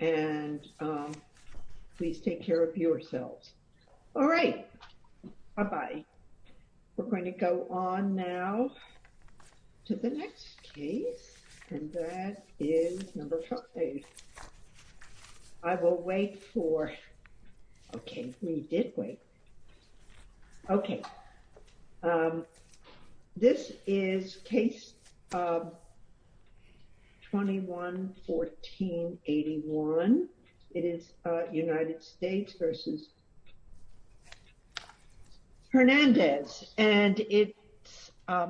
And please take care of yourselves. All right. Bye bye. We're going to go on now to the next case, and that is number five. I will wait for OK, we did wait. OK, this is case 21-14-81. It is United States v. Hernandez, and it's Hi,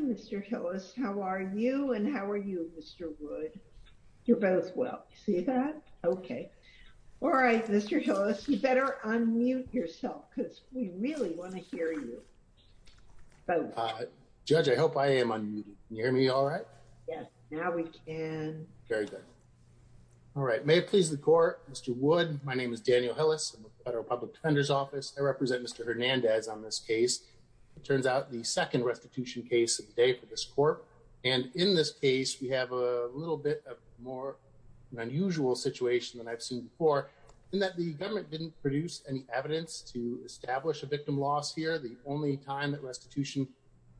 Mr. Hillis, how are you and how are you, Mr. Wood? You're both well. See that? OK. All right, Mr. Hillis, you better unmute yourself because we really want to hear you. So, Judge, I hope I am on mute. Can you hear me all right? Yes. Now we can. Very good. All right. May it please the court. Mr. Wood, my name is Daniel Hillis, Federal Public Defender's Office. I represent Mr. Hernandez on this case. It turns out the second restitution case of the day for this court. And in this case, we have a little bit more unusual situation than I've seen before in that the government didn't produce any evidence to establish a victim loss here. The only time that restitution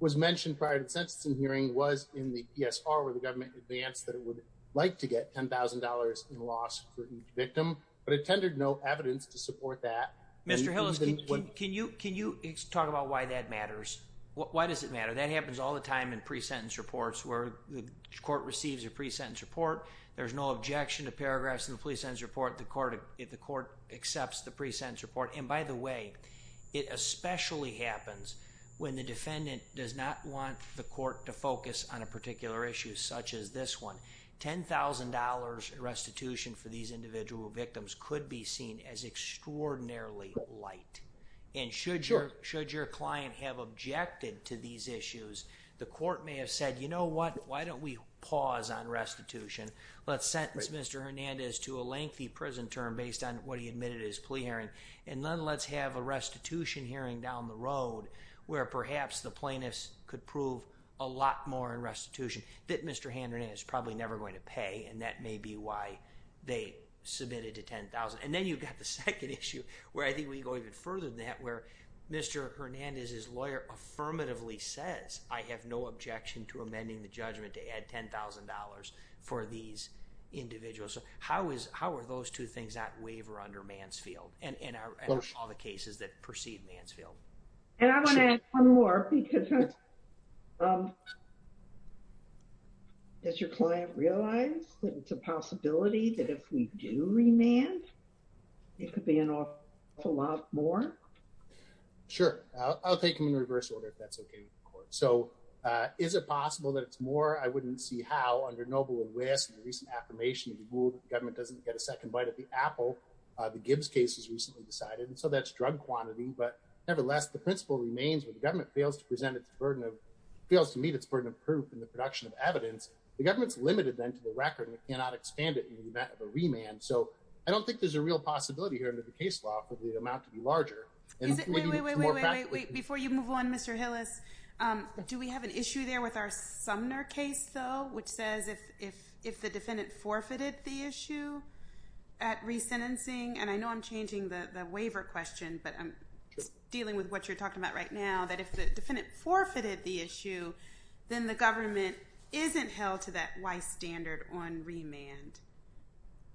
was mentioned prior to the sentencing hearing was in the PSR, where the government advanced that it would like to get $10,000 in loss for each victim. But it tended no evidence to support that. Mr. Hillis, can you can you talk about why that matters? Why does it matter? That happens all the time in pre-sentence reports where the court receives a pre-sentence report. There's no objection to paragraphs in the pre-sentence report. The court if the court accepts the pre-sentence report. And by the way, it especially happens when the defendant does not want the court to focus on a particular issue such as this one. $10,000 restitution for these individual victims could be seen as extraordinarily light. And should your should your client have objected to these issues? The court may have said, you know what? Why don't we pause on restitution? Let's sentence Mr. Hernandez to a lengthy prison term based on what he admitted his plea hearing. And then let's have a restitution hearing down the road where perhaps the plaintiffs could prove a lot more in restitution that Mr. Hernandez is probably never going to pay. And that may be why they submitted to $10,000. And then you've got the second issue where I think we go even further than that, where Mr. Hernandez, his lawyer, affirmatively says, I have no objection to amending the judgment to add $10,000 for these individuals. So how is how are those two things not waiver under Mansfield? And in all the cases that precede Mansfield. And I want to add one more because. Does your client realize that it's a possibility that if we do remand, it could be an awful lot more? Sure. I'll take him in reverse order if that's OK with the court. So is it possible that it's more? I wouldn't see how under Noble and West's recent affirmation to rule that the government doesn't get a second bite of the apple. The Gibbs case was recently decided. And so that's drug quantity. But nevertheless, the principle remains when the government fails to present its burden of bills to meet its burden of proof in the production of evidence. The government's limited then to the record and cannot expand it in the event of a remand. So I don't think there's a real possibility here under the case law for the amount to be larger. And before you move on, Mr. Hillis, do we have an issue there with our Sumner case, though, which says if if if the defendant forfeited the issue at resentencing, and I know I'm changing the waiver question, but I'm dealing with what you're talking about right now, that if the defendant forfeited the issue, then the government isn't held to that wise standard on remand.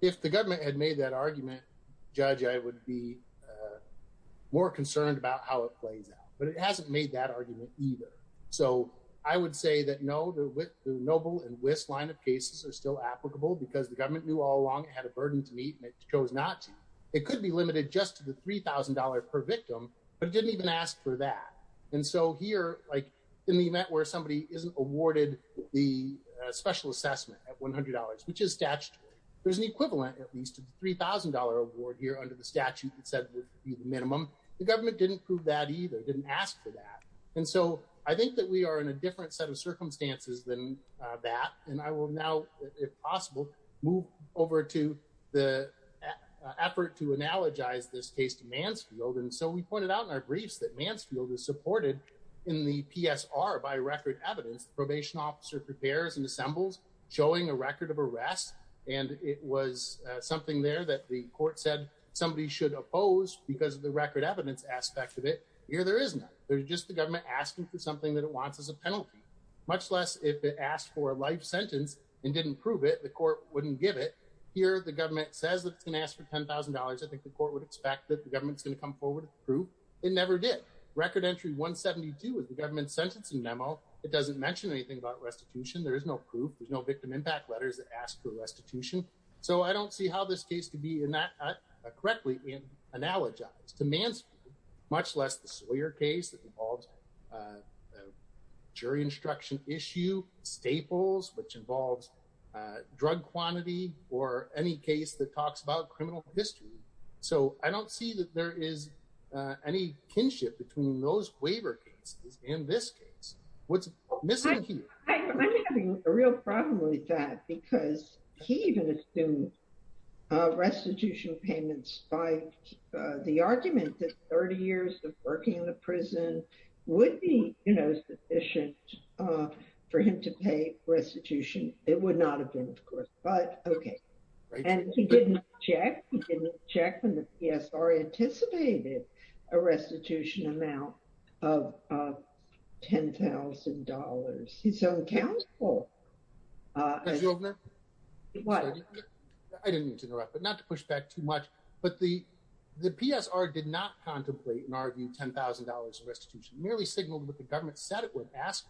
If the government had made that argument, Judge, I would be more concerned about how it plays out. But it hasn't made that argument either. So I would say that, no, the Noble and West line of cases are still applicable because the government knew all along it had a burden to meet and it chose not to. It could be limited just to the three thousand dollar per victim. But it didn't even ask for that. And so here, like in the event where somebody isn't awarded the special assessment at one hundred dollars, which is statutory, there's an equivalent at least of the three thousand dollar award here under the statute that said would be the minimum. The government didn't prove that either, didn't ask for that. And so I think that we are in a different set of circumstances than that. And I will now, if possible, move over to the effort to analogize this case to Mansfield. And so we pointed out in our briefs that Mansfield is supported in the PSR by record evidence. The probation officer prepares and assembles showing a record of arrest. And it was something there that the court said somebody should oppose because of the record evidence aspect of it. Here, there isn't. There's just the government asking for something that it wants as a penalty, much less if it asked for a life sentence and didn't prove it. The court wouldn't give it here. The government says it's going to ask for ten thousand dollars. I think the court would expect that the government's going to come forward. It never did. Record entry 172 is the government's sentencing memo. It doesn't mention anything about restitution. There is no proof. There's no victim impact letters that ask for restitution. So I don't see how this case to be in that correctly analogized to Mansfield, much less the Sawyer case that involved a jury instruction issue staples, which involves drug quantity or any case that talks about criminal history. So I don't see that there is any kinship between those waiver cases in this case. What's missing here? I'm having a real problem with that because he even assumed restitution payments by the argument that 30 years of working in the prison would be sufficient for him to pay restitution. It would not have been, of course, but OK. And he didn't check. He didn't check. And the PSR anticipated a restitution amount of ten thousand dollars. He's so accountable. What I didn't mean to interrupt, but not to push back too much. But the the PSR did not contemplate and argue ten thousand dollars restitution merely signaled what the government said. It would ask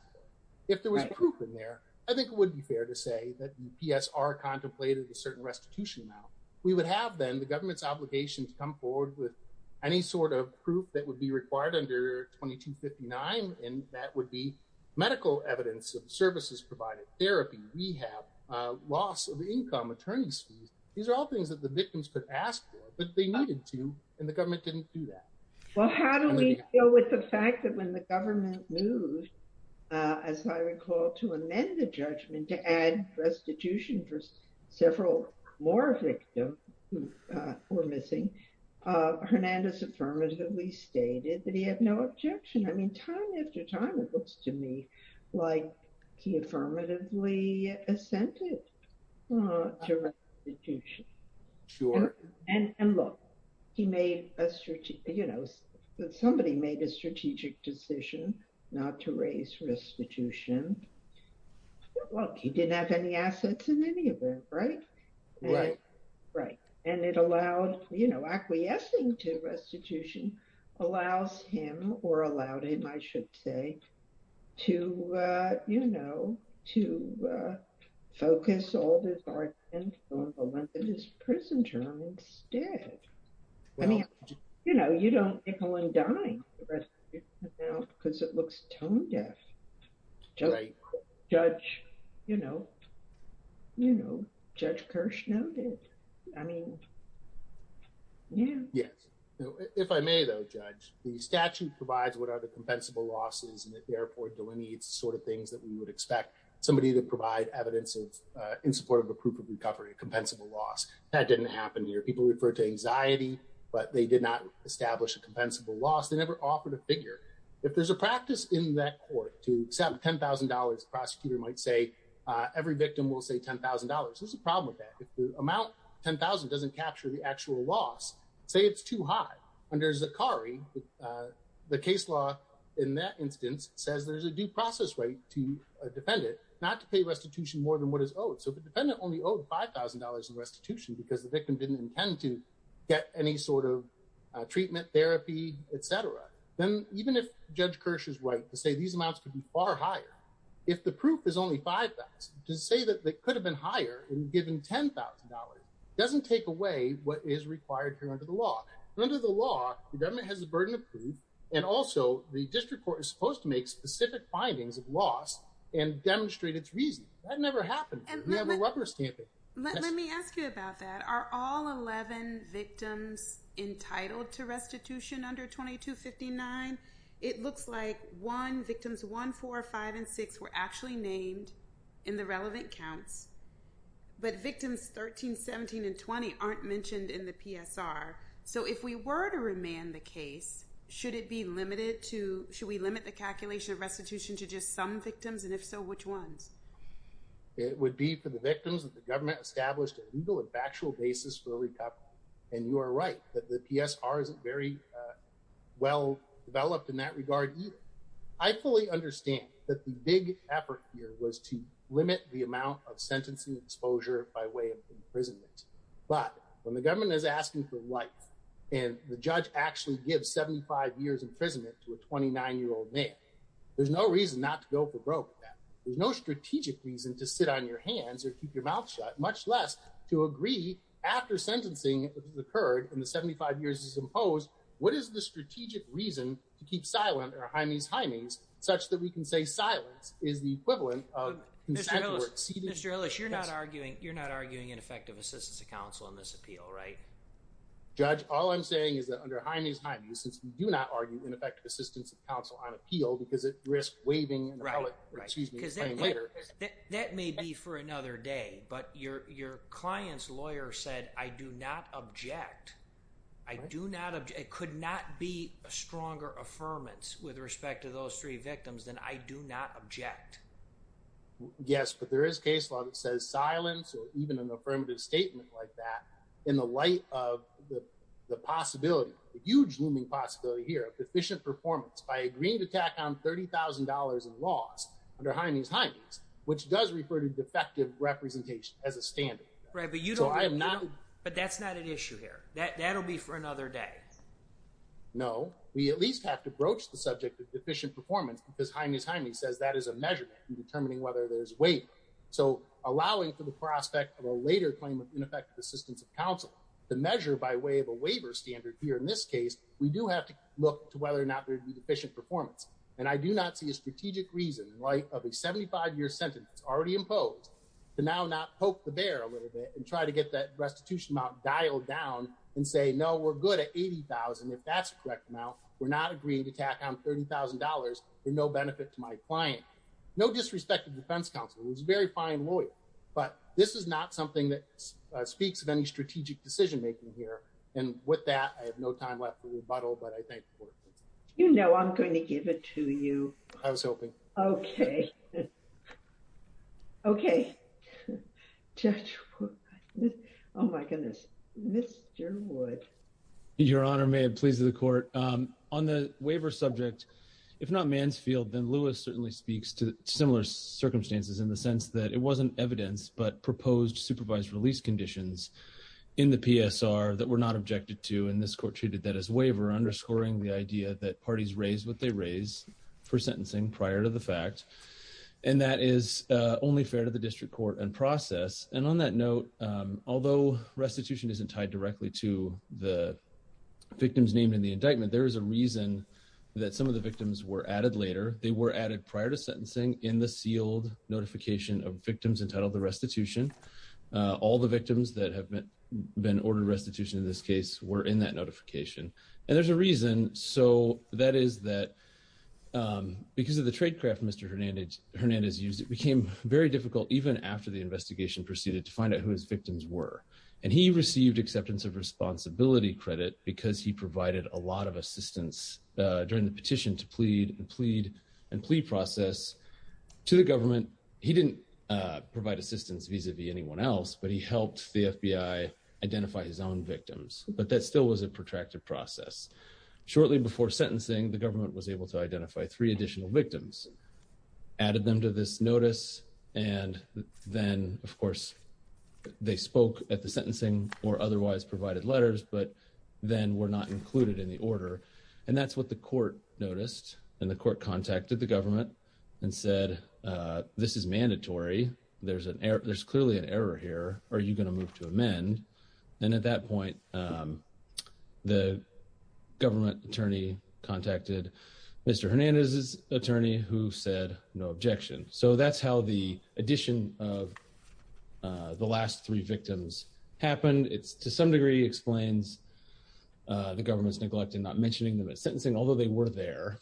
if there was proof in there. I think it would be fair to say that PSR contemplated a certain restitution. Now, we would have then the government's obligation to come forward with any sort of proof that would be required under 2259. And that would be medical evidence of services, provided therapy, rehab, loss of income, attorney's fees. These are all things that the victims could ask for, but they needed to. And the government didn't do that. Well, how do we deal with the fact that when the government moved, as I recall, to amend the judgment to add restitution for several more victims who were missing? Hernandez affirmatively stated that he had no objection. I mean, time after time, it looks to me like he affirmatively assented to restitution. Sure. And look, he made a strategic, you know, somebody made a strategic decision not to raise restitution. Well, he didn't have any assets in any of it. Right. Right. Right. And it allowed, you know, acquiescing to restitution allows him or allowed him, I should say, to, you know, to focus all of his argument on the length of his prison term instead. I mean, you know, you don't nickel and dime because it looks tone deaf. Judge, you know, you know, Judge Kirsch noted, I mean. Yeah. Yes. If I may, though, judge, the statute provides what are the compensable losses and therefore delineates the sort of things that we would expect somebody to provide evidence of in support of a proof of recovery, a compensable loss. That didn't happen here. People refer to anxiety, but they did not establish a compensable loss. They never offered a figure. If there's a practice in that court to set $10,000, prosecutor might say every victim will say $10,000. There's a problem with that. If the amount $10,000 doesn't capture the actual loss, say it's too high. Under Zachary, the case law in that instance says there's a due process right to a defendant not to pay restitution more than what is owed. So the defendant only owed $5,000 in restitution because the victim didn't intend to get any sort of treatment, therapy, et cetera. Then even if Judge Kirsch is right to say these amounts could be far higher, if the proof is only $5,000 to say that they could have been higher and given $10,000 doesn't take away what is required here under the law. Under the law, the government has a burden of proof. And also the district court is supposed to make specific findings of loss and demonstrate its reason. That never happened. We have a rubber stamping. Let me ask you about that. Are all 11 victims entitled to restitution under 2259? It looks like one, victims one, four, five and six were actually named in the relevant counts, but victims 13, 17 and 20 aren't mentioned in the PSR. So if we were to remand the case, should it be limited to should we limit the calculation of restitution to just some victims? And if so, which ones? It would be for the victims that the government established a legal and factual basis for recap. And you are right that the PSR isn't very well developed in that regard. I fully understand that the big effort here was to limit the amount of sentencing exposure by way of imprisonment. But when the government is asking for life and the judge actually gives 75 years imprisonment to a 29 year old man, there's no reason not to go for broke. There's no strategic reason to sit on your hands or keep your mouth shut, much less to agree after sentencing occurred in the 75 years is imposed. What is the strategic reason to keep silent or hymies hymies such that we can say silence is the equivalent of consent? Mr. Ellis, you're not arguing you're not arguing ineffective assistance to counsel on this appeal, right? Judge, all I'm saying is that under hymies hymies, since you do not argue ineffective assistance of counsel on appeal because it risks waiving. Right. Right. Because later, that may be for another day. But your your client's lawyer said, I do not object. I do not. It could not be a stronger affirmance with respect to those three victims than I do not object. Yes, but there is case law that says silence or even an affirmative statement like that in the light of the possibility, a huge looming possibility here of deficient performance by agreeing to tack on $30,000 in loss under hymies hymies, which does refer to defective representation as a standard. Right. But you know, I'm not. But that's not an issue here. That that'll be for another day. No, we at least have to broach the subject of deficient performance because hymies hymies says that is a measurement in determining whether there's weight. So allowing for the prospect of a later claim of ineffective assistance of counsel the measure by way of a waiver standard here in this case, we do have to look to whether or not they're deficient performance. And I do not see a strategic reason in light of a 75 year sentence already imposed to now not poke the bear a little bit and try to get that restitution amount dialed down and say, no, we're good at 80,000. If that's correct now, we're not agreeing to tack on $30,000 for no benefit to my client. No disrespect to defense counsel. It was a very fine lawyer. But this is not something that speaks of any strategic decision making here. And with that, I have no time left to rebuttal. But I think, you know, I'm going to give it to you. I was hoping. OK. OK, just. Oh, my goodness. Mr. Wood, your honor, may it please the court on the waiver subject, if not Mansfield, then Lewis certainly speaks to similar circumstances in the sense that it wasn't evidence, but proposed supervised release conditions in the PSR that were not objected to. And this court treated that as waiver, underscoring the idea that parties raise what they raise for sentencing prior to the fact. And that is only fair to the district court and process. And on that note, although restitution isn't tied directly to the victims named in the indictment, there is a reason that some of the victims were added later. They were added prior to sentencing in the sealed notification of victims entitled the restitution. All the victims that have been ordered restitution in this case were in that notification. And there's a reason. So that is that because of the tradecraft Mr. Hernandez Hernandez used, it became very difficult even after the investigation proceeded to find out who his victims were. And he received acceptance of responsibility credit because he provided a lot of assistance during the petition to plead and plead and plea process to the government. He didn't provide assistance vis-a-vis anyone else, but he helped the FBI identify his own victims. But that still was a protracted process. Shortly before sentencing, the government was able to identify three additional victims, added them to this notice. And then, of course, they spoke at the sentencing or otherwise provided letters, but then were not included in the order. And that's what the court noticed. And the court contacted the government and said, this is mandatory. There's an there's clearly an error here. Are you going to move to amend? And at that point, the government attorney contacted Mr. Hernandez's attorney, who said no objection. So that's how the addition of the last three victims happened. It's to some degree explains the government's neglect in not mentioning them at sentencing, although they were there,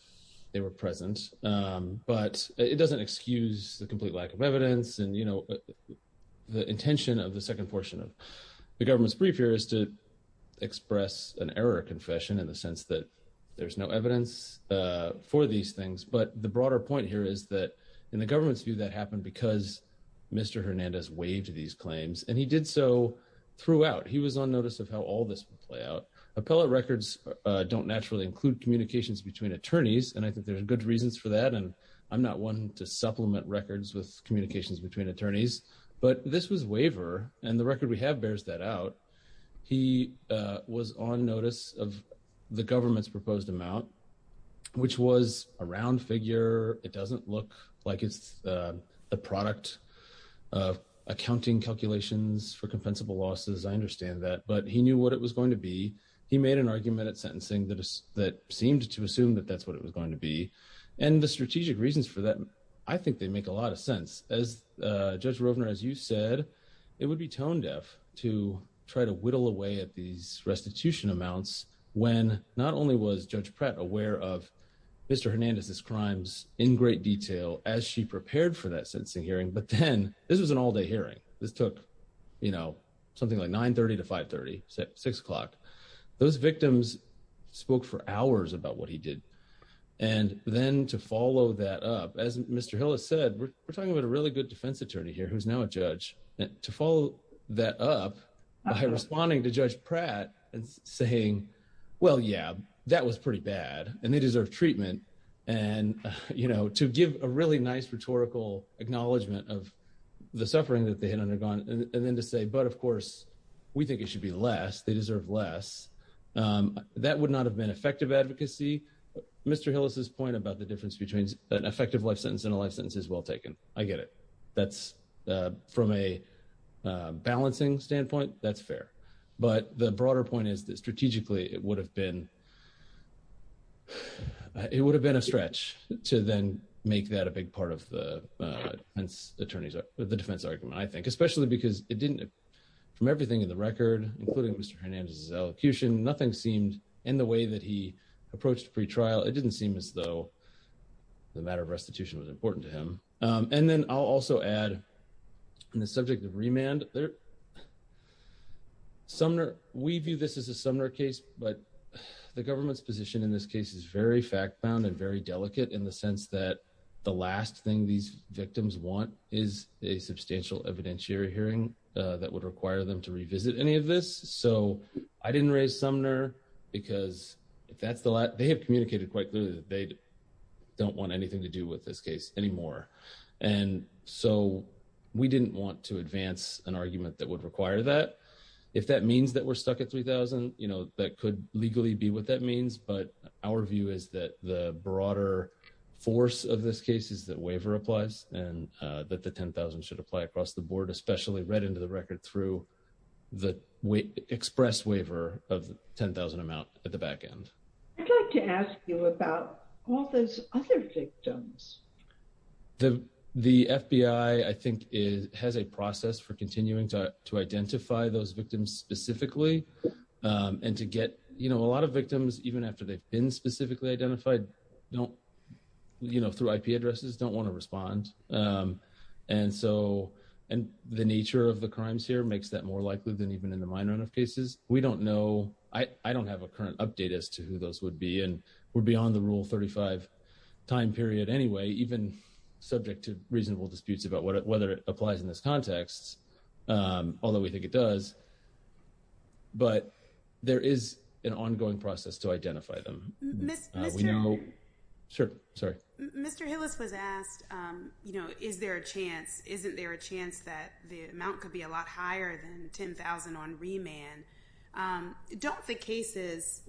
they were present. But it doesn't excuse the complete lack of evidence. And, you know, the intention of the second portion of the government's brief here is to express an error confession in the sense that there's no evidence for these things. But the broader point here is that in the government's view, that happened because Mr. Hernandez waived these claims and he did so throughout. He was on notice of how all this would play out. Appellate records don't naturally include communications between attorneys. And I think there's good reasons for that. And I'm not one to supplement records with communications between attorneys. But this was waiver. And the record we have bears that out. He was on notice of the government's proposed amount, which was a round figure. It doesn't look like it's a product of accounting calculations for compensable losses. I understand that. But he knew what it was going to be. He made an argument at sentencing that that seemed to assume that that's what it was going to be. And the strategic reasons for that, I think they make a lot of sense. As Judge Rovner, as you said, it would be tone deaf to try to whittle away at these restitution amounts when not only was Judge Pratt aware of Mr. Hernandez's crimes in great detail as she prepared for that sentencing hearing. But then this was an all day hearing. This took, you know, something like 930 to 530, six o'clock. Those victims spoke for hours about what he did. And then to follow that up, as Mr. Hill has said, we're talking about a really good defense attorney here who's now a judge to follow that up by responding to Judge Pratt and saying, well, yeah, that was pretty bad and they deserve treatment. And, you know, to give a really nice rhetorical acknowledgment of the suffering that they had undergone and then to say, but of course, we think it should be less. They deserve less. That would not have been effective advocacy. Mr. Hill is his point about the difference between an effective life sentence and a life sentence is well taken. I get it. That's from a balancing standpoint. That's fair. But the broader point is that strategically it would have been. It would have been a stretch to then make that a big part of the defense attorneys, the defense argument, I think, especially because it didn't. From everything in the record, including Mr. Hernandez's elocution, nothing seemed in the way that he approached pretrial. It didn't seem as though the matter of restitution was important to him. And then I'll also add in the subject of remand there. Sumner, we view this as a summer case, but the government's position in this case is very fact bound and very delicate in the sense that the last thing these victims want is a substantial evidentiary hearing that would require them to revisit any of this. So I didn't raise Sumner because that's the they have communicated quite clearly that they don't want anything to do with this case anymore. And so we didn't want to advance an argument that would require that. If that means that we're stuck at 3000, you know, that could legally be what that means. But our view is that the broader force of this case is that waiver applies and that the 10000 should apply across the board, especially read into the record through the express waiver of 10000 amount at the back end. I'd like to ask you about all those other victims. The the FBI, I think, is has a process for continuing to to identify those victims specifically and to get, you know, a lot of victims, even after they've been specifically identified, don't, you know, through IP addresses, don't want to respond. And so and the nature of the crimes here makes that more likely than even in the minor enough cases. We don't know. I don't have a current update as to who those would be. And we're beyond the rule. Thirty five time period anyway, even subject to reasonable disputes about whether it applies in this context, although we think it does. But there is an ongoing process to identify them. Sure. Sorry, Mr. Hillis was asked, you know, is there a chance? Isn't there a chance that the amount could be a lot higher than 10000 on remand? Don't the cases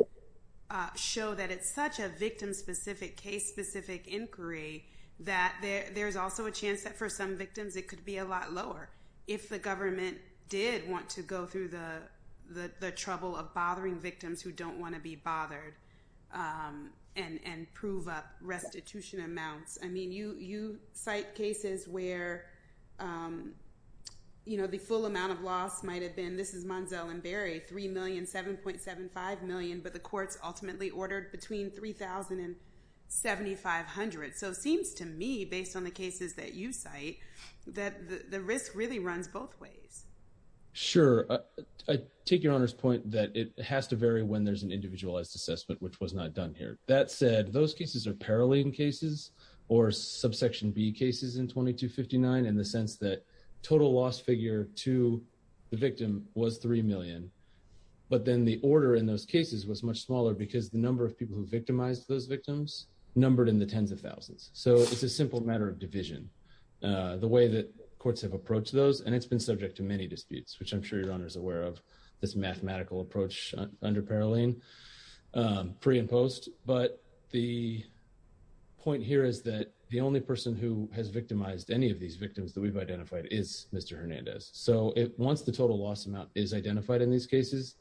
show that it's such a victim specific case, specific inquiry, that there's also a chance that for some victims it could be a lot lower if the government did want to go through the trouble of bothering victims who don't want to be bothered and prove up restitution amounts. I mean, you cite cases where, you know, the full amount of loss might have been. This is Manziel and Barry, three million, seven point seven five million. But the courts ultimately ordered between 3000 and 7500. So it seems to me, based on the cases that you cite, that the risk really runs both ways. Sure. I take your Honor's point that it has to vary when there's an individualized assessment, which was not done here. That said, those cases are paralleling cases or subsection B cases in 2259 in the sense that total loss figure to the victim was three million. But then the order in those cases was much smaller because the number of people who victimized those victims numbered in the tens of thousands. So it's a simple matter of division, the way that courts have approached those. And it's been subject to many disputes, which I'm sure your Honor's aware of, this mathematical approach under Paroline pre and post. But the point here is that the only person who has victimized any of these victims that we've identified is Mr. Hernandez. So once the total loss amount is identified in these cases,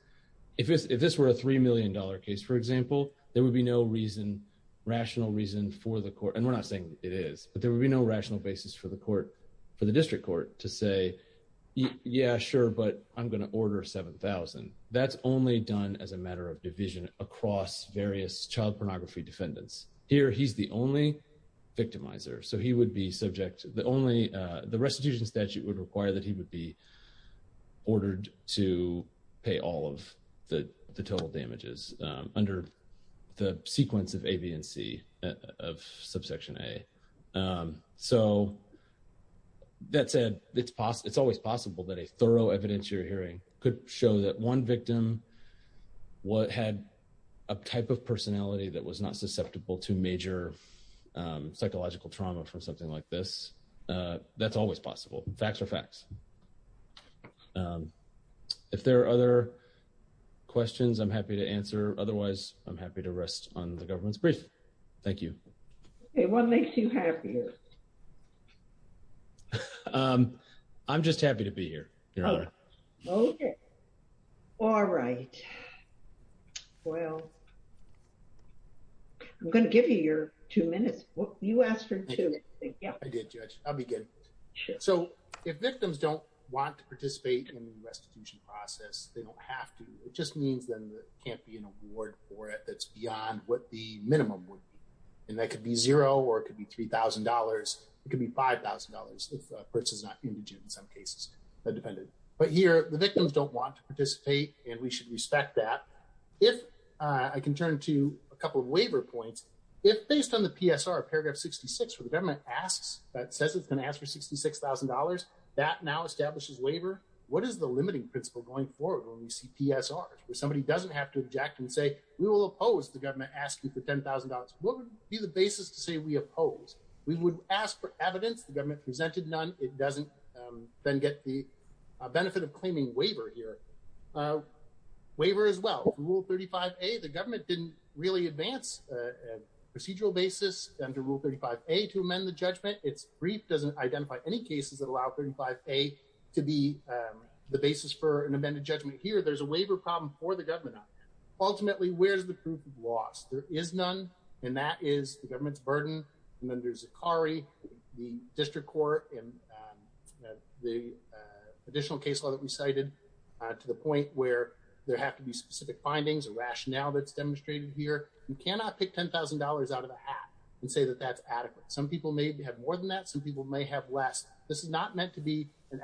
if this were a three million dollar case, for example, there would be no reason, rational reason for the court. And we're not saying it is, but there would be no rational basis for the court, for the district court to say, yeah, sure, but I'm going to order 7000. That's only done as a matter of division across various child pornography defendants. Here, he's the only victimizer. So he would be subject, the only, the restitution statute would require that he would be ordered to pay all of the total damages under the sequence of A, B, and C of subsection A. So that said, it's always possible that a thorough evidence you're hearing could show that one victim had a type of personality that was not susceptible to major psychological trauma from something like this. That's always possible. Facts are facts. If there are other questions, I'm happy to answer. Otherwise, I'm happy to rest on the government's brief. Thank you. Okay, what makes you happier? I'm just happy to be here, Your Honor. Okay. All right. Well, I'm going to give you your two minutes. You asked for two. I did, Judge. I'll begin. So if victims don't want to participate in the restitution process, they don't have to. It just means then there can't be an award for it that's beyond what the minimum would be. And that could be zero or it could be $3,000. It could be $5,000 if a person's not indigent in some cases, that depended. But here, the victims don't want to participate and we should respect that. If I can turn to a couple of waiver points. If based on the PSR, paragraph 66, where the government asks, that says it's going to ask for $66,000, that now establishes waiver. What is the limiting principle going forward when we see PSRs, where somebody doesn't have to object and say, we will oppose the government asking for $10,000. What would be the basis to say we oppose? We would ask for evidence. The government presented none. It doesn't then get the benefit of claiming waiver here. Waiver as well, Rule 35A, the government didn't really advance a procedural basis under Rule 35A to amend the judgment. Its brief doesn't identify any cases that allow 35A to be the basis for an amended judgment. Here, there's a waiver problem for the government. Ultimately, where's the proof of loss? There is none, and that is the government's burden. And then there's Zakari, the district court, and the additional case law that we cited, to the point where there have to be specific findings, a rationale that's demonstrated here. You cannot pick $10,000 out of a hat and say that that's adequate. Some people may have more than that. Some people may have less. This is not meant to be an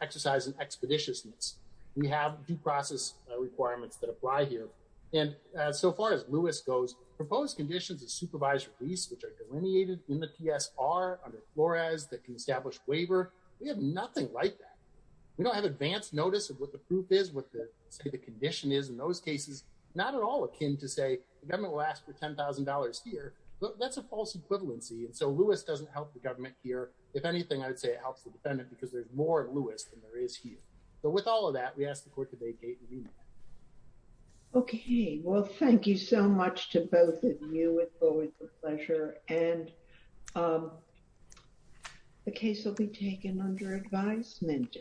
exercise in expeditiousness. We have due process requirements that apply here. And so far as Lewis goes, proposed conditions of supervised release, which are delineated in the PSR under Flores, that can establish waiver. We have nothing like that. We don't have advanced notice of what the proof is, what the condition is in those cases. Not at all akin to say, the government will ask for $10,000 here. That's a false equivalency. And so Lewis doesn't help the government here. If anything, I would say it helps the defendant, because there's more Lewis than there is here. But with all of that, we ask the court to vacate the remand. Okay. Well, thank you so much to both of you. It's always a pleasure. And the case will be taken under advisement.